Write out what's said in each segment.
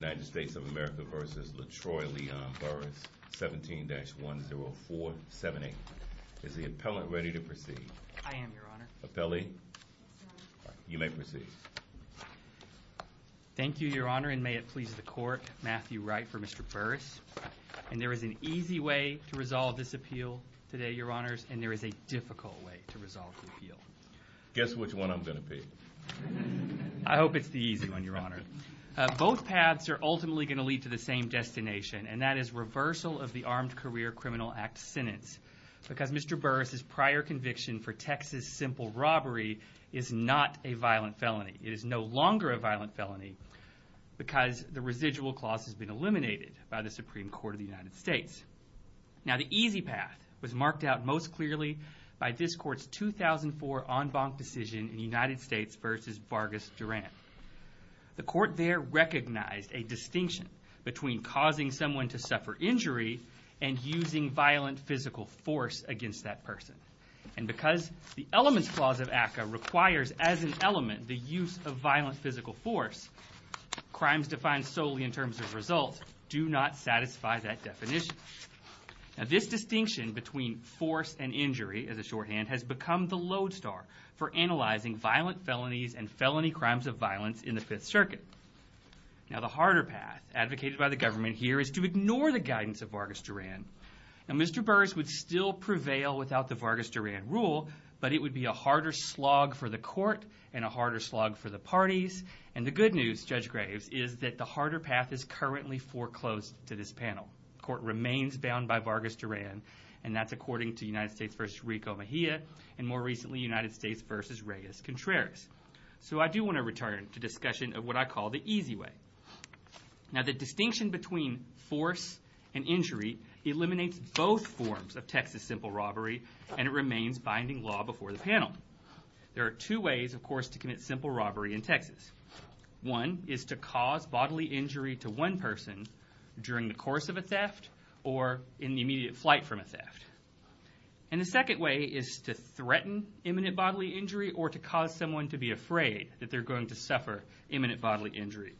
United States of America v. Latroy Leon Burris 17-10478. Is the appellant ready to proceed? I am, Your Honor. Appellee? Yes, Your Honor. You may proceed. Thank you, Your Honor, and may it please the Court, Matthew Wright for Mr. Burris. And there is an easy way to resolve this appeal today, Your Honors, and there is a difficult way to resolve the appeal. Guess which one I'm going to pick. I hope it's the easy one, Your Honor. Both paths are ultimately going to lead to the same destination, and that is reversal of the Armed Career Criminal Act sentence because Mr. Burris' prior conviction for Texas simple robbery is not a violent felony. It is no longer a violent felony because the residual clause has been eliminated by the Supreme Court of the United States. Now, the easy path was marked out most clearly by this Court's 2004 en banc decision in the United States v. Vargas-Durant. The Court there recognized a distinction between causing someone to suffer injury and using violent physical force against that person. And because the elements clause of ACCA requires as an element the use of violent physical force, crimes defined solely in terms of results do not satisfy that definition. Now, this distinction between force and injury, as a shorthand, has become the lodestar for analyzing violent felonies and felony crimes of violence in the Fifth Circuit. Now, the harder path advocated by the government here is to ignore the guidance of Vargas-Durant. Now, Mr. Burris would still prevail without the Vargas-Durant rule, but it would be a harder slog for the Court and a harder slog for the parties. And the good news, Judge Graves, is that the harder path is currently foreclosed to this panel. The Court remains bound by Vargas-Durant, and that's according to United States v. Rico Mejia, and more recently, United States v. Reyes-Contreras. So I do want to return to discussion of what I call the easy way. Now, the distinction between force and injury eliminates both forms of Texas simple robbery, and it remains binding law before the panel. There are two ways, of course, to commit simple robbery in Texas. One is to cause bodily injury to one person during the course of a theft or in the immediate flight from a theft. And the second way is to threaten imminent bodily injury or to cause someone to be afraid that they're going to suffer imminent bodily injury.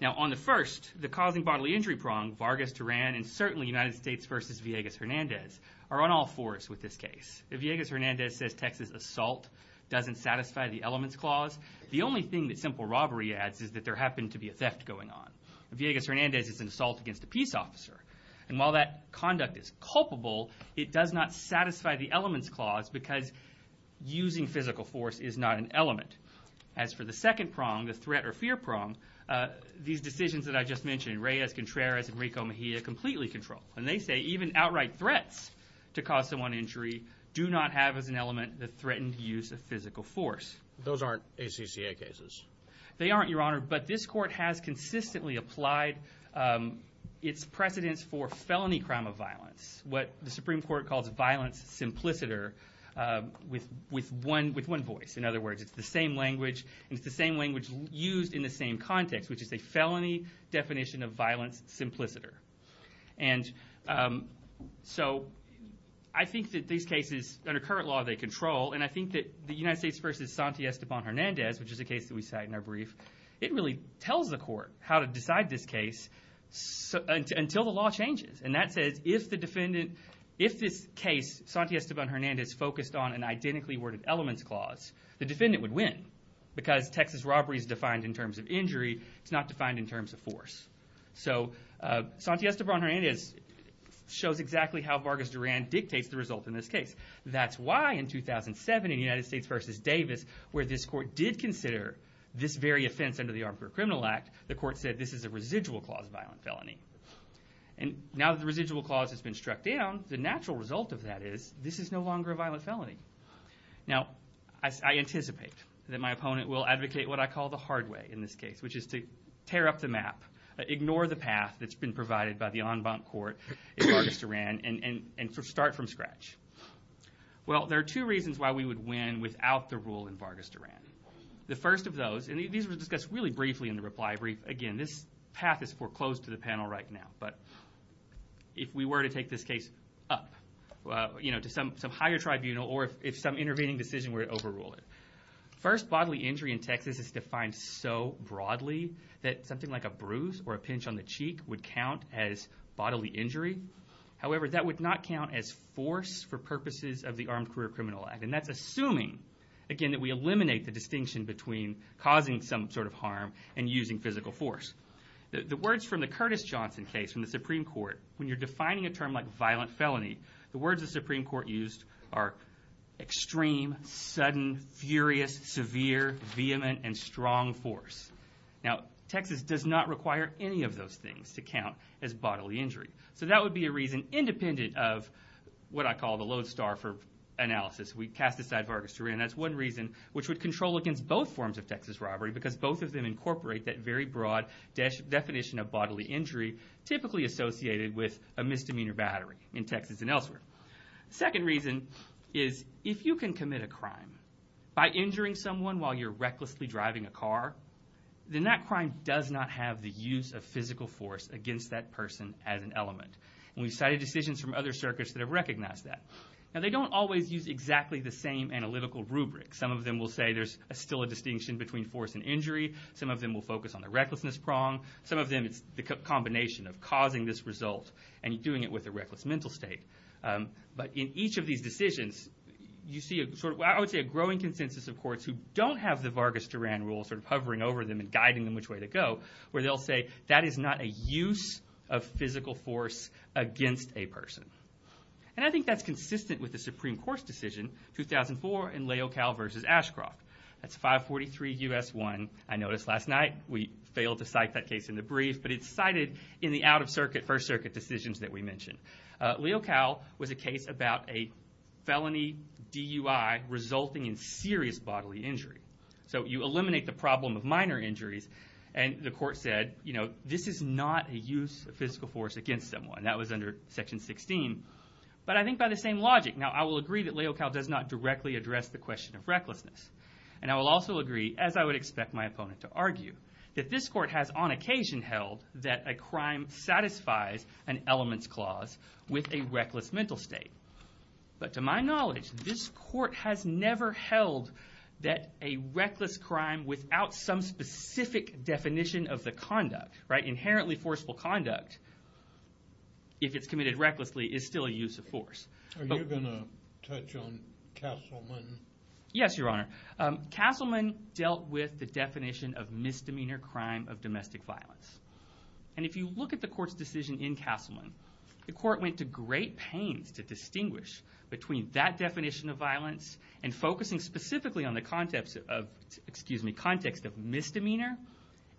Now, on the first, the causing bodily injury prong, Vargas-Durant, and certainly United States v. Villegas-Hernandez, are on all fours with this case. Villegas-Hernandez says Texas assault doesn't satisfy the elements clause. The only thing that simple robbery adds is that there happened to be a theft going on. Villegas-Hernandez is an assault against a peace officer. And while that conduct is culpable, it does not satisfy the elements clause because using physical force is not an element. As for the second prong, the threat or fear prong, these decisions that I just mentioned, Reyes-Contreras and Rico Mejia, completely control. And they say even outright threats to cause someone injury do not have as an element the threatened use of physical force. Those aren't ACCA cases. They aren't, Your Honor, but this court has consistently applied its precedence for felony crime of violence, what the Supreme Court calls violence simpliciter with one voice. In other words, it's the same language, and it's the same language used in the same context, which is a felony definition of violence simpliciter. And so I think that these cases, under current law, they control. And I think that the United States v. Santiago-Esteban-Hernandez, which is a case that we cite in our brief, it really tells the court how to decide this case until the law changes. And that says if this case, Santiago-Esteban-Hernandez, focused on an identically worded elements clause, the defendant would win because Texas robbery is defined in terms of injury. It's not defined in terms of force. So Santiago-Esteban-Hernandez shows exactly how Vargas Duran dictates the result in this case. That's why in 2007, in the United States v. Davis, where this court did consider this very offense under the Armed Career Criminal Act, the court said this is a residual clause violent felony. And now that the residual clause has been struck down, the natural result of that is this is no longer a violent felony. Now, I anticipate that my opponent will advocate what I call the hard way in this case, which is to tear up the map, ignore the path that's been provided by the en banc court in Vargas Duran, and start from scratch. Well, there are two reasons why we would win without the rule in Vargas Duran. The first of those, and these were discussed really briefly in the reply brief. Again, this path is foreclosed to the panel right now, but if we were to take this case up to some higher tribunal or if some intervening decision were to overrule it. First, bodily injury in Texas is defined so broadly that something like a bruise or a pinch on the cheek would count as bodily injury. However, that would not count as force for purposes of the Armed Career Criminal Act. And that's assuming, again, that we eliminate the distinction between causing some sort of harm and using physical force. The words from the Curtis Johnson case in the Supreme Court, when you're defining a term like violent felony, the words the Supreme Court used are extreme, sudden, furious, severe, vehement, and strong force. Now, Texas does not require any of those things to count as bodily injury. So that would be a reason independent of what I call the lodestar for analysis. We cast aside Vargas Duran. That's one reason which would control against both forms of Texas robbery because both of them incorporate that very broad definition of bodily injury typically associated with a misdemeanor battery in Texas and elsewhere. The second reason is if you can commit a crime by injuring someone while you're recklessly driving a car, then that crime does not have the use of physical force against that person as an element. And we've cited decisions from other circuits that have recognized that. Now, they don't always use exactly the same analytical rubric. Some of them will say there's still a distinction between force and injury. Some of them will focus on the recklessness prong. Some of them, it's the combination of causing this result and doing it with a reckless mental state. But in each of these decisions, you see sort of what I would say a growing consensus of courts who don't have the Vargas Duran rule sort of hovering over them and guiding them which way to go where they'll say that is not a use of physical force against a person. And I think that's consistent with the Supreme Court's decision 2004 in Leocal versus Ashcroft. That's 543 U.S. 1. I noticed last night we failed to cite that case in the brief, but it's cited in the out-of-circuit, first-circuit decisions that we mentioned. Leocal was a case about a felony DUI resulting in serious bodily injury. So you eliminate the problem of minor injuries, and the court said, you know, this is not a use of physical force against someone. That was under Section 16. But I think by the same logic. Now, I will agree that Leocal does not directly address the question of recklessness. And I will also agree, as I would expect my opponent to argue, that this court has on occasion held that a crime satisfies an elements clause with a reckless mental state. But to my knowledge, this court has never held that a reckless crime without some specific definition of the conduct, inherently forceful conduct, if it's committed recklessly, is still a use of force. Are you going to touch on Castleman? Yes, Your Honor. Castleman dealt with the definition of misdemeanor crime of domestic violence. And if you look at the court's decision in Castleman, the court went to great pains to distinguish between that definition of violence and focusing specifically on the context of misdemeanor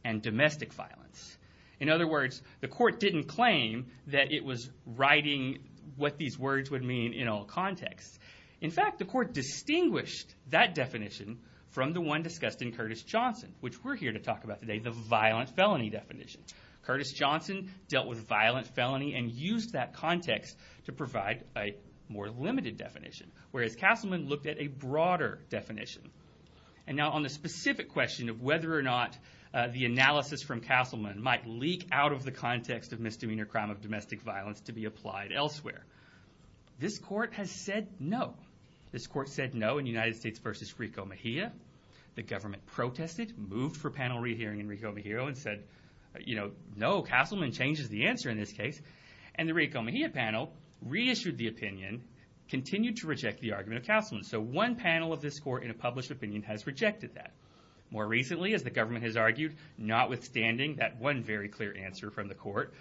and domestic violence. In other words, the court didn't claim that it was writing what these words would mean in all contexts. In fact, the court distinguished that definition from the one discussed in Curtis Johnson, which we're here to talk about today, the violent felony definition. Curtis Johnson dealt with violent felony and used that context to provide a more limited definition, whereas Castleman looked at a broader definition. And now on the specific question of whether or not the analysis from Castleman might leak out of the context of misdemeanor crime of domestic violence to be applied elsewhere, this court has said no. This court said no in United States v. Rico Mejia. The government protested, moved for panel re-hearing in Rico Mejia, and said, you know, no, Castleman changes the answer in this case. And the Rico Mejia panel reissued the opinion, continued to reject the argument of Castleman. So one panel of this court in a published opinion has rejected that. More recently, as the government has argued, notwithstanding that one very clear answer from the court,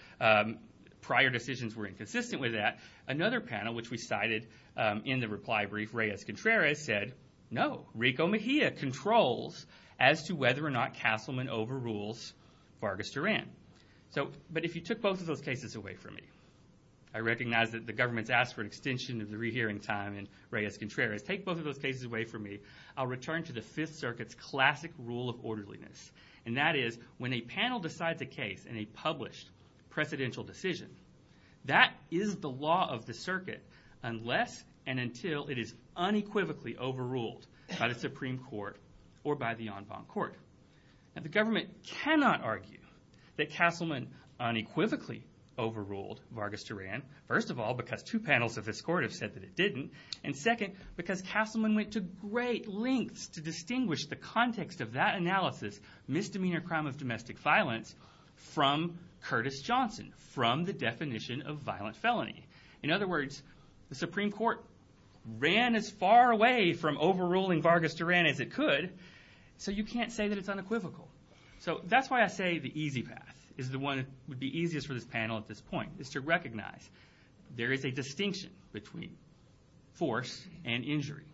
prior decisions were inconsistent with that, another panel, which we cited in the reply brief, Reyes-Contreras, said, no, Rico Mejia controls as to whether or not Castleman overrules Vargas-Duran. But if you took both of those cases away from me, I recognize that the government's asked for an extension of the re-hearing time, and Reyes-Contreras, take both of those cases away from me, I'll return to the Fifth Circuit's classic rule of orderliness, and that is, when a panel decides a case in a published precedential decision, that is the law of the circuit unless and until it is unequivocally overruled by the Supreme Court or by the en banc court. Now, the government cannot argue that Castleman unequivocally overruled Vargas-Duran, first of all, because two panels of this court have said that it didn't, and second, because Castleman went to great lengths to distinguish the context of that analysis, misdemeanor crime of domestic violence, from Curtis Johnson, from the definition of violent felony. In other words, the Supreme Court ran as far away from overruling Vargas-Duran as it could, so you can't say that it's unequivocal. So that's why I say the easy path is the one that would be easiest for this panel at this point, is to recognize there is a distinction between force and injury.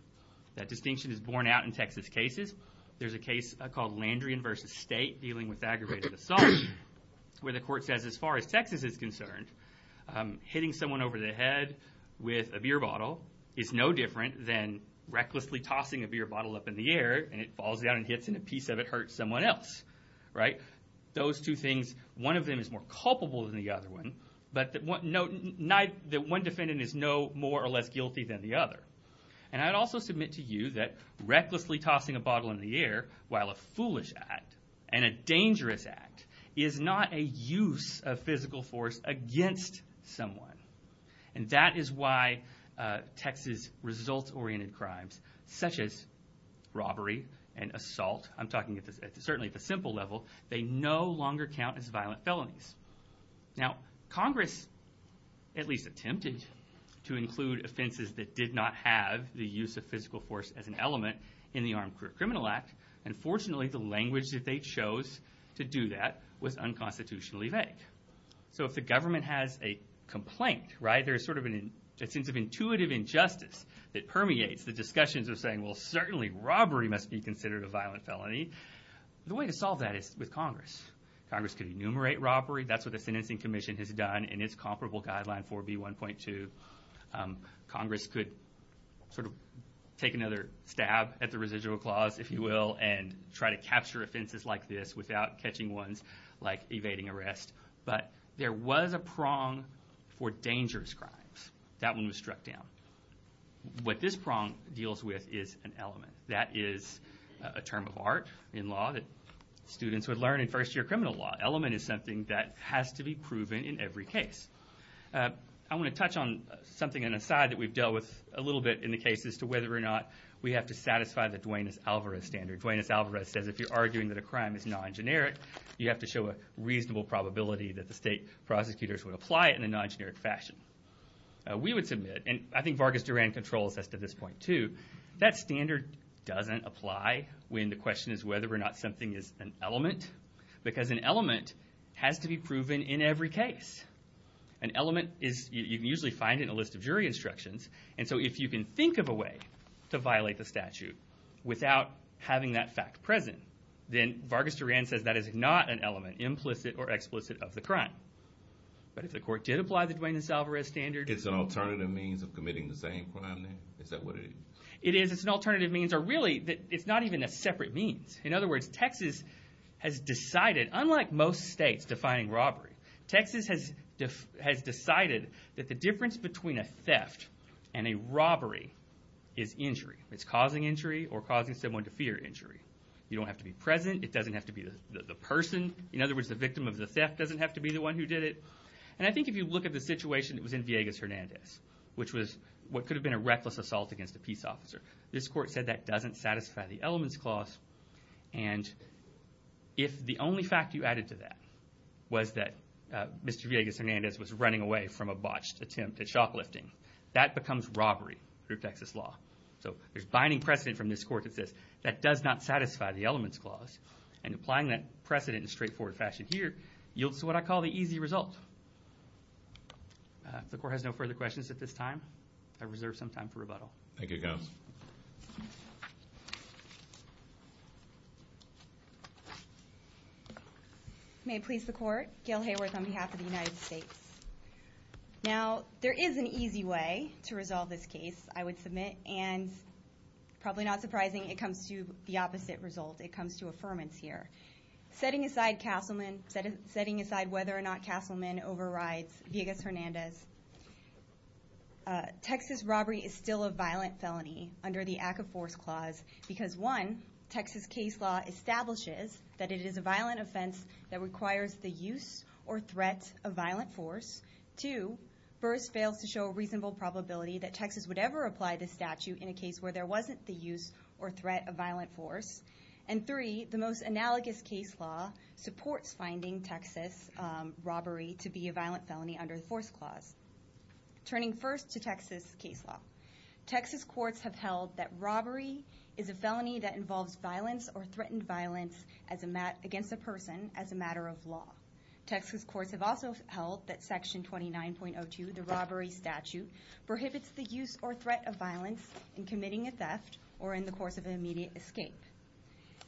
That distinction is borne out in Texas cases. There's a case called Landrian v. State, dealing with aggravated assault, where the court says, as far as Texas is concerned, hitting someone over the head with a beer bottle is no different than recklessly tossing a beer bottle up in the air, and it falls down and hits, and a piece of it hurts someone else. Those two things, one of them is more culpable than the other one, but one defendant is no more or less guilty than the other. And I'd also submit to you that recklessly tossing a bottle in the air, while a foolish act and a dangerous act, is not a use of physical force against someone. And that is why Texas results-oriented crimes, such as robbery and assault, I'm talking certainly at the simple level, they no longer count as violent felonies. Now, Congress at least attempted to include offenses that did not have the use of physical force as an element in the Armed Career Criminal Act, and fortunately the language that they chose to do that was unconstitutionally vague. So if the government has a complaint, right, there's sort of a sense of intuitive injustice that permeates the discussions of saying, well, certainly robbery must be considered a violent felony. The way to solve that is with Congress. Congress could enumerate robbery. That's what the Sentencing Commission has done in its comparable guideline 4B1.2. Congress could sort of take another stab at the residual clause, if you will, and try to capture offenses like this without catching ones like evading arrest. But there was a prong for dangerous crimes. That one was struck down. What this prong deals with is an element. That is a term of art in law that students would learn in first-year criminal law. Element is something that has to be proven in every case. I want to touch on something on the side that we've dealt with a little bit in the case as to whether or not we have to satisfy the Duane S. Alvarez standard. Duane S. Alvarez says if you're arguing that a crime is non-generic, you have to show a reasonable probability that the state prosecutors would apply it in a non-generic fashion. We would submit, and I think Vargas Duran controls this to this point, too, that standard doesn't apply when the question is whether or not something is an element, because an element has to be proven in every case. An element is usually found in a list of jury instructions, and so if you can think of a way to violate the statute without having that fact present, then Vargas Duran says that is not an element, implicit or explicit, of the crime. But if the court did apply the Duane S. Alvarez standard... It's an alternative means of committing the same crime, then? Is that what it is? It is. It's an alternative means, or really, it's not even a separate means. In other words, Texas has decided, unlike most states defining robbery, Texas has decided that the difference between a theft and a robbery is injury. It's causing injury or causing someone to fear injury. You don't have to be present. It doesn't have to be the person. In other words, the victim of the theft doesn't have to be the one who did it. And I think if you look at the situation that was in Villegas-Hernandez, which was what could have been a reckless assault against a peace officer, this court said that doesn't satisfy the elements clause, and if the only fact you added to that was that Mr. Villegas-Hernandez was running away from a botched attempt at shock lifting, that becomes robbery through Texas law. So there's binding precedent from this court that says that does not satisfy the elements clause, and applying that precedent in a straightforward fashion here yields to what I call the easy result. If the court has no further questions at this time, I reserve some time for rebuttal. Thank you, guys. May it please the court, Gail Hayworth on behalf of the United States. Now, there is an easy way to resolve this case, I would submit, and probably not surprising, it comes to the opposite result. It comes to affirmance here. Setting aside whether or not Castleman overrides Villegas-Hernandez, Texas robbery is still a violent felony under the act of force clause because, one, Texas case law establishes that it is a violent offense that requires the use or threat of violent force. Two, first fails to show a reasonable probability that Texas would ever apply this statute in a case where there wasn't the use or threat of violent force. And three, the most analogous case law supports finding Texas robbery to be a violent felony under the force clause. Turning first to Texas case law, Texas courts have held that robbery is a felony that involves violence or threatened violence against a person as a matter of law. Texas courts have also held that section 29.02, the robbery statute, prohibits the use or threat of violence in committing a theft or in the course of an immediate escape.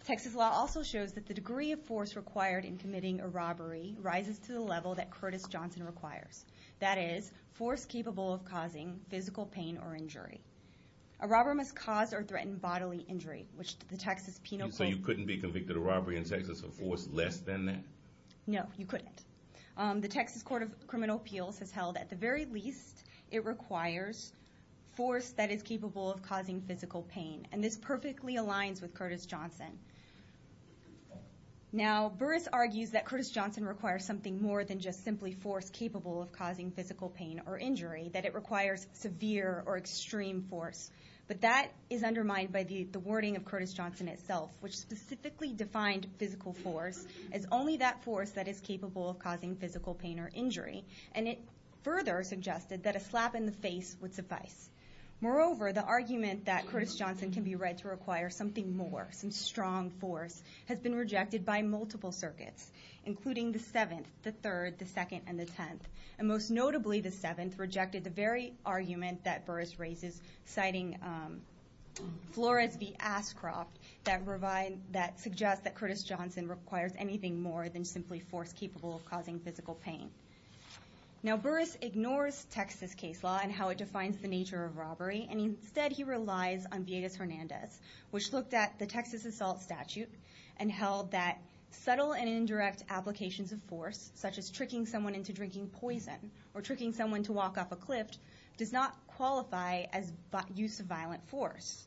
Texas law also shows that the degree of force required in committing a robbery rises to the level that Curtis Johnson requires. That is, force capable of causing physical pain or injury. A robber must cause or threaten bodily injury, which the Texas penal code- So you couldn't be convicted of robbery in Texas of force less than that? No, you couldn't. The Texas Court of Criminal Appeals has held that at the very least, it requires force that is capable of causing physical pain, and this perfectly aligns with Curtis Johnson. Now, Burris argues that Curtis Johnson requires something more than just simply force capable of causing physical pain or injury, that it requires severe or extreme force. But that is undermined by the wording of Curtis Johnson itself, which specifically defined physical force as only that force that is capable of causing physical pain or injury, and it further suggested that a slap in the face would suffice. Moreover, the argument that Curtis Johnson can be read to require something more, some strong force, has been rejected by multiple circuits, including the 7th, the 3rd, the 2nd, and the 10th. And most notably, the 7th rejected the very argument that Burris raises, citing Flores v. Ascroft that suggests that Curtis Johnson requires anything more than simply force capable of causing physical pain. Now, Burris ignores Texas case law and how it defines the nature of robbery, and instead he relies on Villegas-Hernandez, which looked at the Texas assault statute and held that subtle and indirect applications of force, such as tricking someone into drinking poison or tricking someone to walk off a cliff, does not qualify as use of violent force.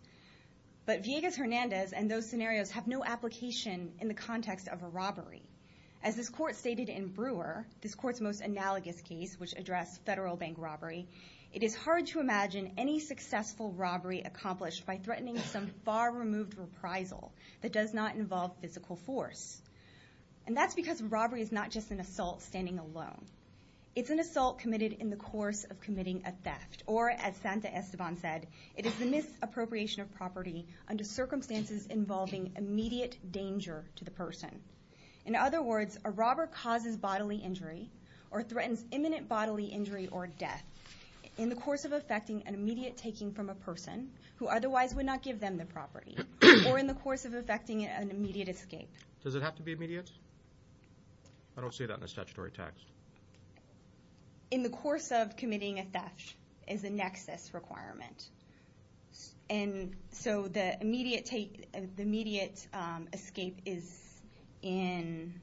But Villegas-Hernandez and those scenarios have no application in the context of a robbery. As this court stated in Brewer, this court's most analogous case, which addressed federal bank robbery, it is hard to imagine any successful robbery accomplished by threatening some far removed reprisal that does not involve physical force. And that's because robbery is not just an assault standing alone. It's an assault committed in the course of committing a theft, or as Santa Esteban said, it is the misappropriation of property under circumstances involving immediate danger to the person. In other words, a robber causes bodily injury or threatens imminent bodily injury or death in the course of effecting an immediate taking from a person who otherwise would not give them the property, or in the course of effecting an immediate escape. Does it have to be immediate? I don't see that in the statutory text. In the course of committing a theft is a nexus requirement. And so the immediate escape is in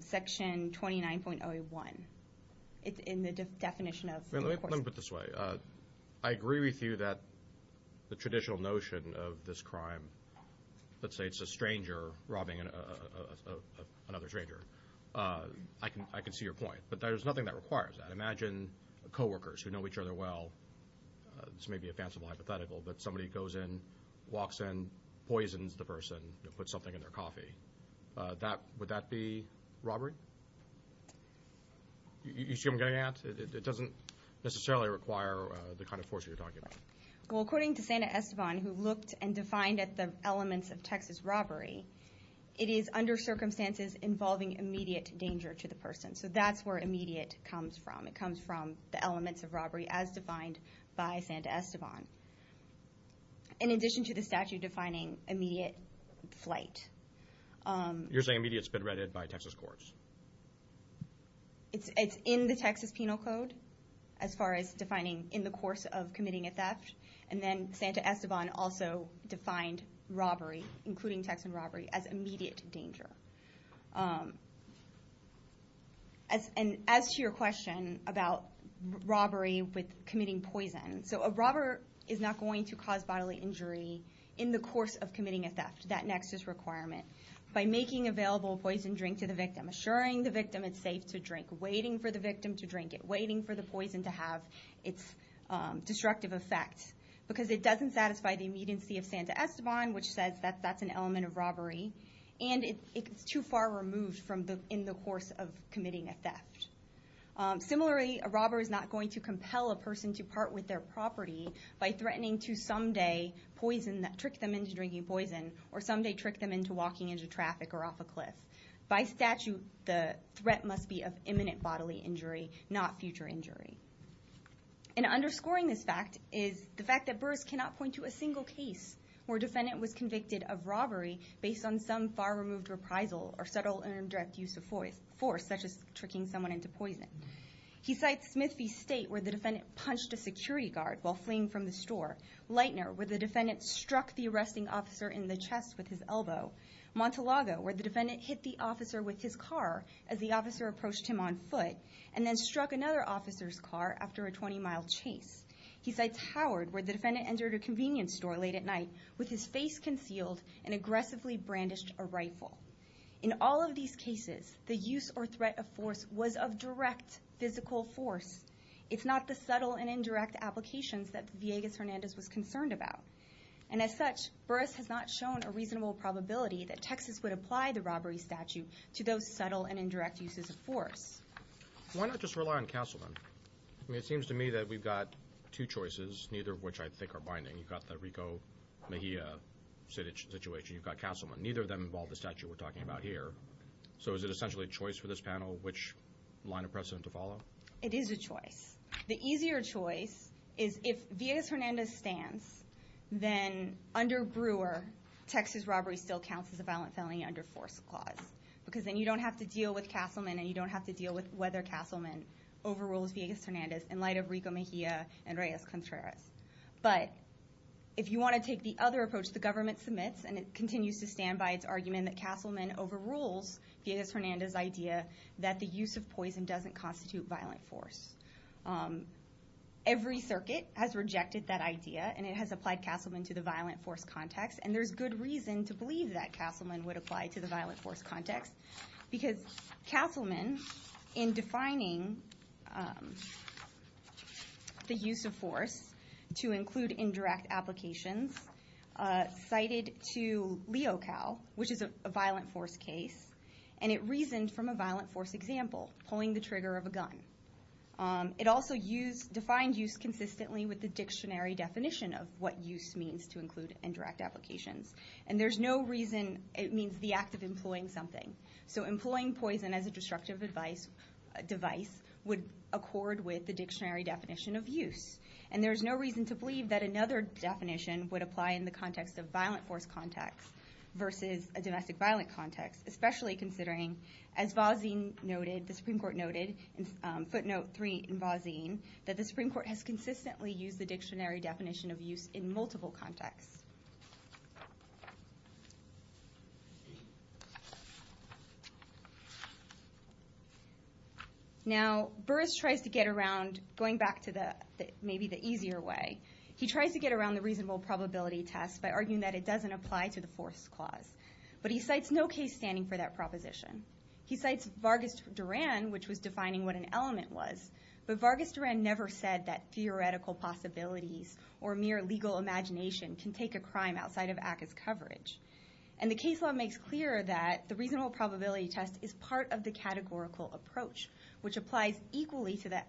section 29.01 in the definition of force. Let me put it this way. I agree with you that the traditional notion of this crime, let's say it's a stranger robbing another stranger. I can see your point, but there's nothing that requires that. Imagine coworkers who know each other well. This may be a fanciful hypothetical, but somebody goes in, walks in, poisons the person, puts something in their coffee. Would that be robbery? You see what I'm getting at? It doesn't necessarily require the kind of force you're talking about. Well, according to Santa Esteban, who looked and defined at the elements of Texas robbery, it is under circumstances involving immediate danger to the person. So that's where immediate comes from. It comes from the elements of robbery as defined by Santa Esteban. In addition to the statute defining immediate flight. You're saying immediate has been read by Texas courts? It's in the Texas Penal Code as far as defining in the course of committing a theft, and then Santa Esteban also defined robbery, including Texan robbery, as immediate danger. As to your question about robbery with committing poison, so a robber is not going to cause bodily injury in the course of committing a theft. That next is requirement. By making available poison drink to the victim, assuring the victim it's safe to drink, waiting for the victim to drink it, waiting for the poison to have its destructive effect, because it doesn't satisfy the immediacy of Santa Esteban, which says that that's an element of robbery, and it's too far removed in the course of committing a theft. Similarly, a robber is not going to compel a person to part with their property by threatening to someday trick them into drinking poison or someday trick them into walking into traffic or off a cliff. By statute, the threat must be of imminent bodily injury, not future injury. And underscoring this fact is the fact that Burrs cannot point to a single case where a defendant was convicted of robbery based on some far-removed reprisal or subtle indirect use of force, such as tricking someone into poison. He cites Smith v. State, where the defendant punched a security guard while fleeing from the store. Lightner, where the defendant struck the arresting officer in the chest with his elbow. Montalago, where the defendant hit the officer with his car as the officer approached him on foot and then struck another officer's car after a 20-mile chase. He cites Howard, where the defendant entered a convenience store late at night with his face concealed and aggressively brandished a rifle. In all of these cases, the use or threat of force was of direct physical force. It's not the subtle and indirect applications that Villegas-Hernandez was concerned about. And as such, Burrs has not shown a reasonable probability that Texas would apply the robbery statute to those subtle and indirect uses of force. Why not just rely on councilmen? I mean, it seems to me that we've got two choices, neither of which I think are binding. You've got the Rico Mejia situation, you've got councilmen. Neither of them involve the statute we're talking about here. It is a choice. The easier choice is if Villegas-Hernandez stands, then under Brewer, Texas robbery still counts as a violent felony under force clause because then you don't have to deal with castlemen and you don't have to deal with whether castlemen overrules Villegas-Hernandez in light of Rico Mejia and Reyes-Contreras. But if you want to take the other approach the government submits and it continues to stand by its argument that castlemen overrules Villegas-Hernandez's idea that the use of poison doesn't constitute violent force. Every circuit has rejected that idea and it has applied castlemen to the violent force context and there's good reason to believe that castlemen would apply to the violent force context because castlemen, in defining the use of force to include indirect applications, cited to LeoCal, which is a violent force case, and it reasoned from a violent force example, pulling the trigger of a gun. It also defined use consistently with the dictionary definition of what use means to include indirect applications. And there's no reason it means the act of employing something. So employing poison as a destructive device would accord with the dictionary definition of use. And there's no reason to believe that another definition would apply in the context of violent force context versus a domestic violent context, especially considering, as Vazin noted, the Supreme Court noted in footnote 3 in Vazin, that the Supreme Court has consistently used the dictionary definition of use in multiple contexts. Now Burris tries to get around, going back to maybe the easier way, he tries to get around the reasonable probability test by arguing that it doesn't apply to the force clause. But he cites no case standing for that proposition. He cites Vargas Duran, which was defining what an element was, but Vargas Duran never said that theoretical possibilities or mere legal imagination can take a crime outside of ACCA's coverage. And the case law makes clear that the reasonable probability test is part of the categorical approach, which applies equally to that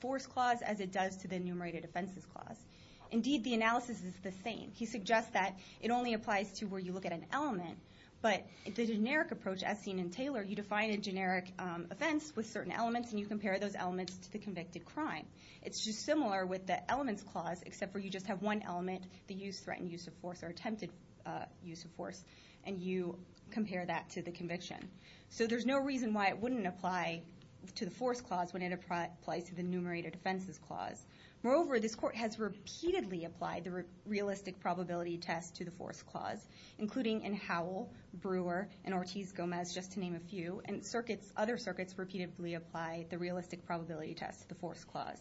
force clause as it does to the enumerated offenses clause. Indeed, the analysis is the same. He suggests that it only applies to where you look at an element, but the generic approach, as seen in Taylor, you define a generic offense with certain elements, and you compare those elements to the convicted crime. It's just similar with the elements clause, except for you just have one element, the use, threatened use of force, or attempted use of force, and you compare that to the conviction. So there's no reason why it wouldn't apply to the force clause when it applies to the enumerated offenses clause. Moreover, this court has repeatedly applied the realistic probability test to the force clause, including in Howell, Brewer, and Ortiz-Gomez, just to name a few, and other circuits repeatedly apply the realistic probability test to the force clause.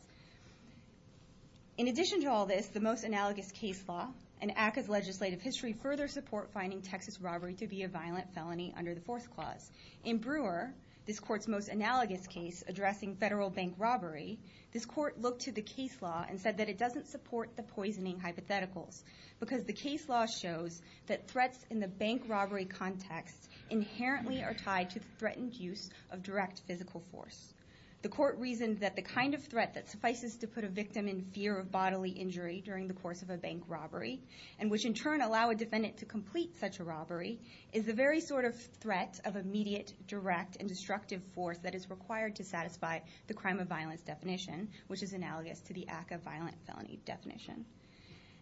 In addition to all this, the most analogous case law and ACCA's legislative history further support finding Texas robbery to be a violent felony under the force clause. In Brewer, this court's most analogous case addressing federal bank robbery, this court looked to the case law and said that it doesn't support the poisoning hypotheticals because the case law shows that threats in the bank robbery context inherently are tied to threatened use of direct physical force. The court reasoned that the kind of threat that suffices to put a victim in fear of bodily injury during the course of a bank robbery, and which in turn allow a defendant to complete such a robbery, is the very sort of threat of immediate, direct, and destructive force that is required to satisfy the crime of violence definition, which is analogous to the ACCA violent felony definition.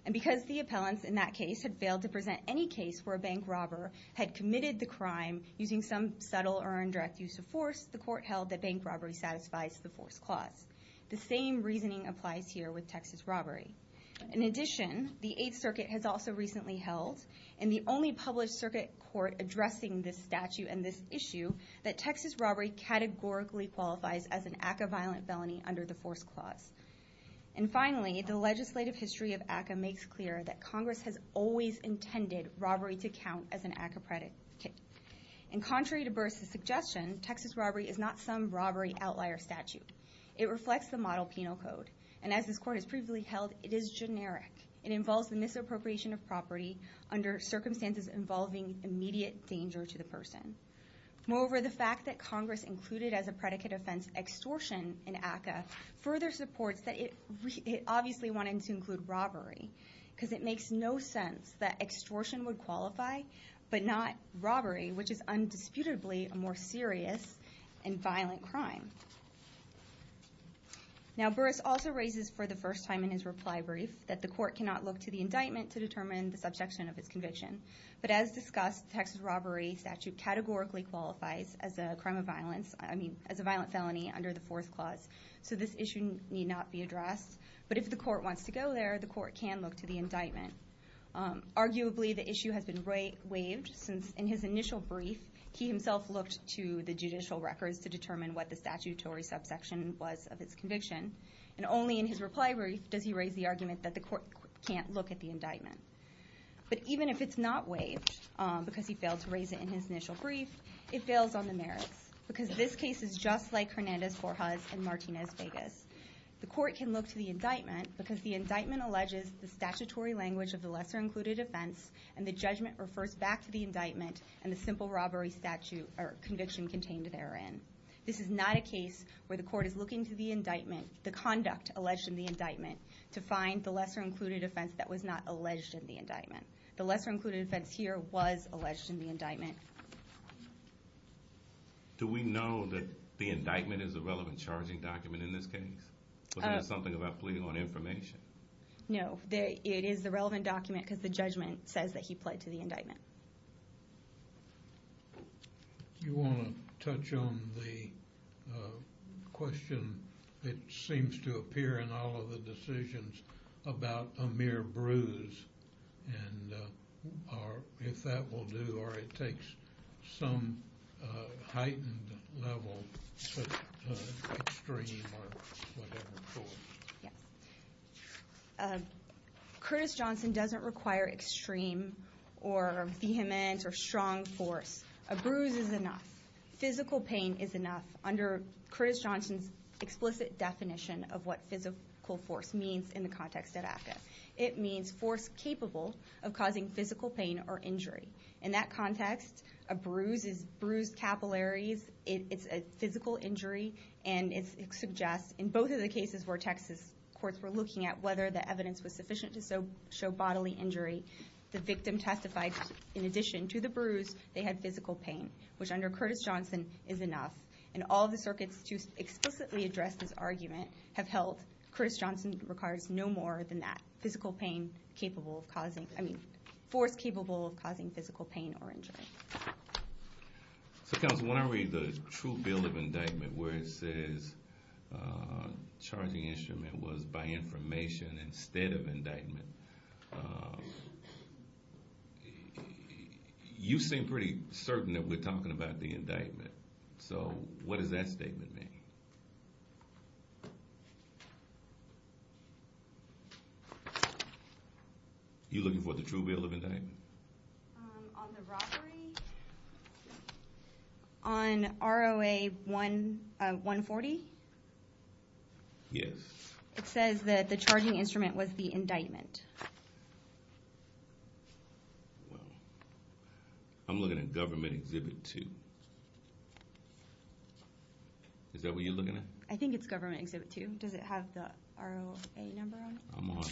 And because the appellants in that case had failed to present any case where a bank robber had committed the crime using some subtle or indirect use of force, the court held that bank robbery satisfies the force clause. The same reasoning applies here with Texas robbery. In addition, the Eighth Circuit has also recently held, and the only published circuit court addressing this statute and this issue, that Texas robbery categorically qualifies as an ACCA violent felony under the force clause. And finally, the legislative history of ACCA makes clear that Congress has always intended robbery to count as an ACCA predicate. And contrary to Burr's suggestion, Texas robbery is not some robbery outlier statute. It reflects the model penal code, and as this court has previously held, it is generic. It involves the misappropriation of property under circumstances involving immediate danger to the person. Moreover, the fact that Congress included as a predicate offense extortion in ACCA further supports that it obviously wanted to include robbery, because it makes no sense that extortion would qualify, but not robbery, which is undisputably a more serious and violent crime. Now Burr's also raises for the first time in his reply brief that the court cannot look to the indictment to determine the subjection of its conviction. But as discussed, the Texas robbery statute categorically qualifies as a crime of violence, I mean as a violent felony under the force clause, so this issue need not be addressed. But if the court wants to go there, the court can look to the indictment. Arguably the issue has been waived, since in his initial brief, he himself looked to the judicial records to determine what the statutory subsection was of his conviction, and only in his reply brief does he raise the argument that the court can't look at the indictment. But even if it's not waived, because he failed to raise it in his initial brief, it fails on the merits, because this case is just like Hernandez-Borja's and Martinez-Vegas. The court can look to the indictment, because the indictment alleges the statutory language of the lesser-included offense, and the judgment refers back to the indictment and the simple robbery conviction contained therein. This is not a case where the court is looking to the conduct alleged in the indictment to find the lesser-included offense that was not alleged in the indictment. The lesser-included offense here was alleged in the indictment. Do we know that the indictment is a relevant charging document in this case? Was there something about pleading on information? No, it is the relevant document, because the judgment says that he pled to the indictment. You want to touch on the question that seems to appear in all of the decisions about a mere bruise, and if that will do, or it takes some heightened level of extreme or whatever for it. Yes. Curtis Johnson doesn't require extreme or vehement or strong force. A bruise is enough. Physical pain is enough. Under Curtis Johnson's explicit definition of what physical force means in the context of AFCA, it means force capable of causing physical pain or injury. In that context, a bruise is bruised capillaries. It's a physical injury, and it suggests in both of the cases where Texas courts were looking at whether the evidence was sufficient to show bodily injury, the victim testified in addition to the bruise they had physical pain, which under Curtis Johnson is enough, and all of the circuits to explicitly address this argument have held physical pain capable of causing, I mean force capable of causing physical pain or injury. So counsel, when I read the true bill of indictment where it says charging instrument was by information instead of indictment, you seem pretty certain that we're talking about the indictment. So what does that statement mean? You looking for the true bill of indictment? On the robbery? On ROA 140? Yes. It says that the charging instrument was the indictment. Well, I'm looking at Government Exhibit 2. Is that what you're looking at? I think it's Government Exhibit 2. Does it have the ROA number on it?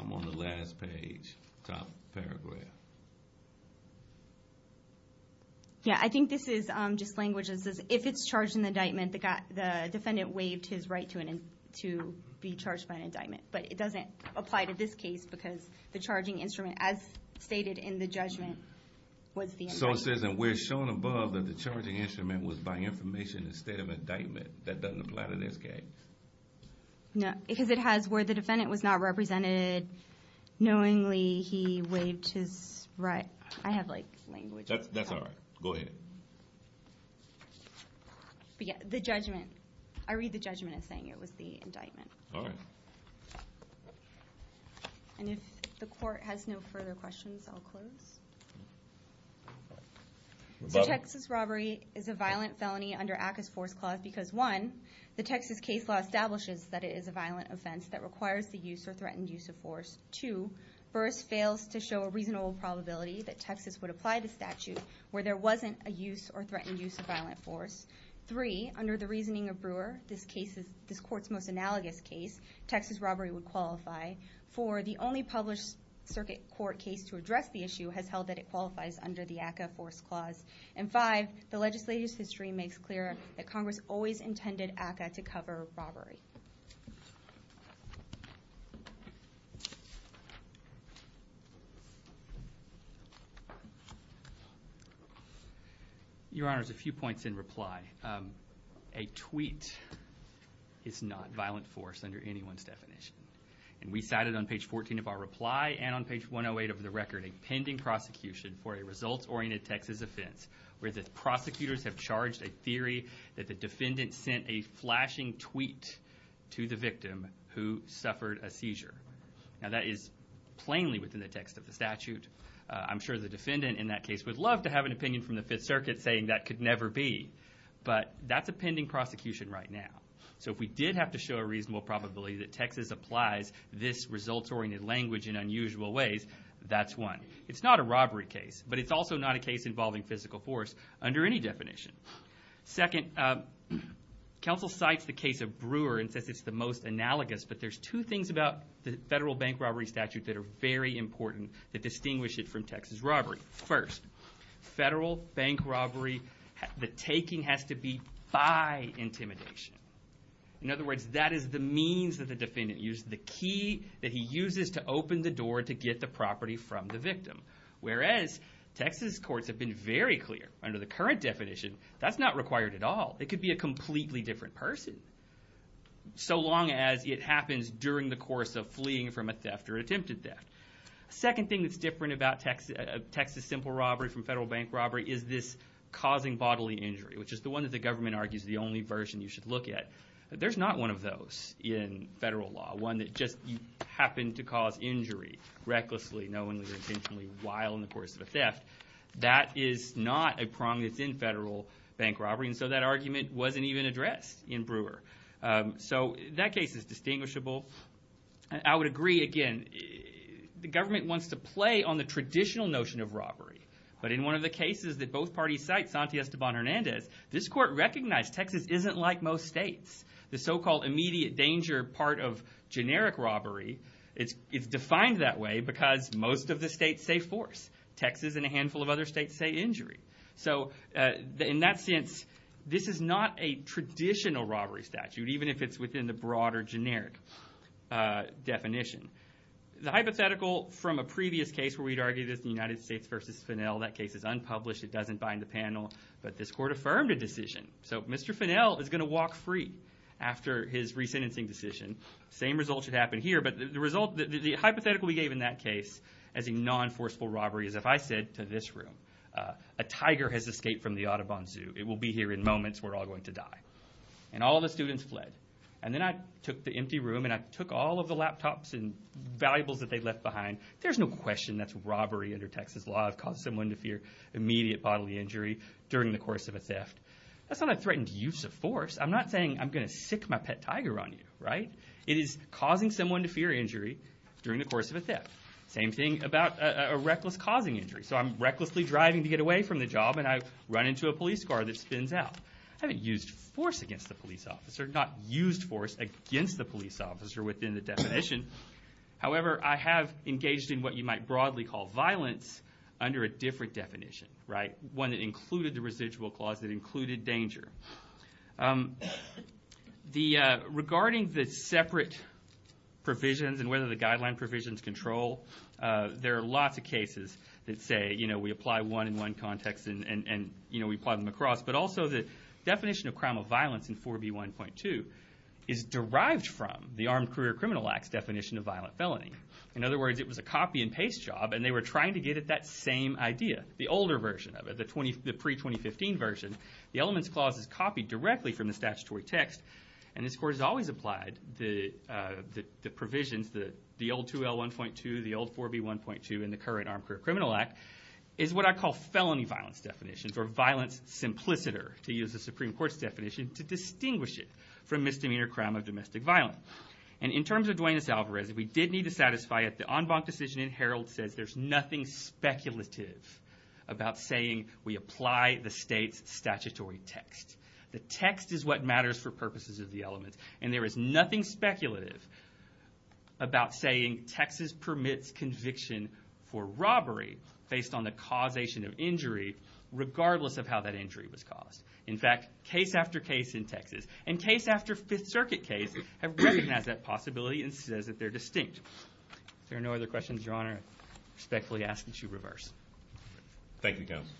I'm on the last page, top paragraph. Yeah, I think this is just language that says if it's charged in indictment, the defendant waived his right to be charged by an indictment. But it doesn't apply to this case because the charging instrument, as stated in the judgment, was the indictment. So it says that we're shown above that the charging instrument was by information instead of indictment. That doesn't apply to this case? No, because it has where the defendant was not represented, knowingly he waived his right. I have, like, language. That's all right. Go ahead. But yeah, the judgment. I read the judgment as saying it was the indictment. All right. And if the court has no further questions, I'll close. So Texas robbery is a violent felony under ACCA's Force Clause because, one, the Texas case law establishes that it is a violent offense that requires the use or threatened use of force. Two, Burress fails to show a reasonable probability that Texas would apply the statute where there wasn't a use or threatened use of violent force. Three, under the reasoning of Brewer, this court's most analogous case, Texas robbery would qualify. Four, the only published circuit court case to address the issue has held that it qualifies under the ACCA Force Clause. And five, the legislative history makes clear that Congress always intended ACCA to cover robbery. Your Honor, there's a few points in reply. A tweet is not violent force under anyone's definition. And we cited on page 14 of our reply and on page 108 of the record a pending prosecution for a results-oriented Texas offense where the prosecutors have charged a theory that the defendant sent a flashing tweet to the victim who suffered a seizure. Now, that is plainly within the text of the statute. I'm sure the defendant in that case would love to have an opinion from the Fifth Circuit saying that could never be. But that's a pending prosecution right now. So if we did have to show a reasonable probability that Texas applies this results-oriented language in unusual ways, that's one. It's not a robbery case, but it's also not a case involving physical force under any definition. Second, counsel cites the case of Brewer and says it's the most analogous, but there's two things about the federal bank robbery statute that are very important that distinguish it from Texas robbery. First, federal bank robbery, the taking has to be by intimidation. In other words, that is the means that the defendant uses, the key that he uses to open the door to get the property from the victim. Whereas Texas courts have been very clear under the current definition that's not required at all. It could be a completely different person so long as it happens during the course of fleeing from a theft or attempted theft. Second thing that's different about Texas simple robbery from federal bank robbery is this causing bodily injury, which is the one that the government argues is the only version you should look at. There's not one of those in federal law, one that just happened to cause injury recklessly knowingly or intentionally while in the course of a theft. That is not a prong that's in federal bank robbery, and so that argument wasn't even addressed in Brewer. So that case is distinguishable. I would agree, again, the government wants to play on the traditional notion of robbery, but in one of the cases that both parties cite, this court recognized Texas isn't like most states. The so-called immediate danger part of generic robbery, it's defined that way because most of the states say force. Texas and a handful of other states say injury. So in that sense, this is not a traditional robbery statute, even if it's within the broader generic definition. The hypothetical from a previous case where we'd argue this, the United States versus Fennel, that case is unpublished. It doesn't bind the panel, but this court affirmed a decision. So Mr. Fennel is going to walk free after his resentencing decision. Same result should happen here, but the hypothetical we gave in that case as a non-forceful robbery is if I said to this room, a tiger has escaped from the Audubon Zoo. It will be here in moments. We're all going to die. And all the students fled. And then I took the empty room, and I took all of the laptops and valuables that they left behind. There's no question that's robbery under Texas law. I've caused someone to fear immediate bodily injury during the course of a theft. That's not a threatened use of force. I'm not saying I'm going to sic my pet tiger on you, right? It is causing someone to fear injury during the course of a theft. Same thing about a reckless causing injury. So I'm recklessly driving to get away from the job, and I run into a police car that spins out. I haven't used force against the police officer, not used force against the police officer within the definition. However, I have engaged in what you might broadly call violence under a different definition, right? One that included the residual clause that included danger. Regarding the separate provisions and whether the guideline provisions control, there are lots of cases that say we apply one in one context and we apply them across. But also the definition of crime of violence in 4B1.2 is derived from the Armed Career Criminal Act's definition of violent felony. In other words, it was a copy and paste job, and they were trying to get at that same idea, the older version of it, the pre-2015 version. The elements clause is copied directly from the statutory text, and this court has always applied the provisions, the old 2L1.2, the old 4B1.2, and the current Armed Career Criminal Act, is what I call felony violence definitions, or violence simpliciter, to use the Supreme Court's definition, to distinguish it from misdemeanor crime of domestic violence. And in terms of Duenas-Alvarez, if we did need to satisfy it, the en banc decision in Herald says there's nothing speculative about saying we apply the state's statutory text. The text is what matters for purposes of the element, and there is nothing speculative about saying Texas permits conviction for robbery based on the causation of injury, regardless of how that injury was caused. In fact, case after case in Texas and case after Fifth Circuit case have recognized that possibility and says that they're distinct. If there are no other questions, Your Honor, I respectfully ask that you reverse. Thank you, Counsel.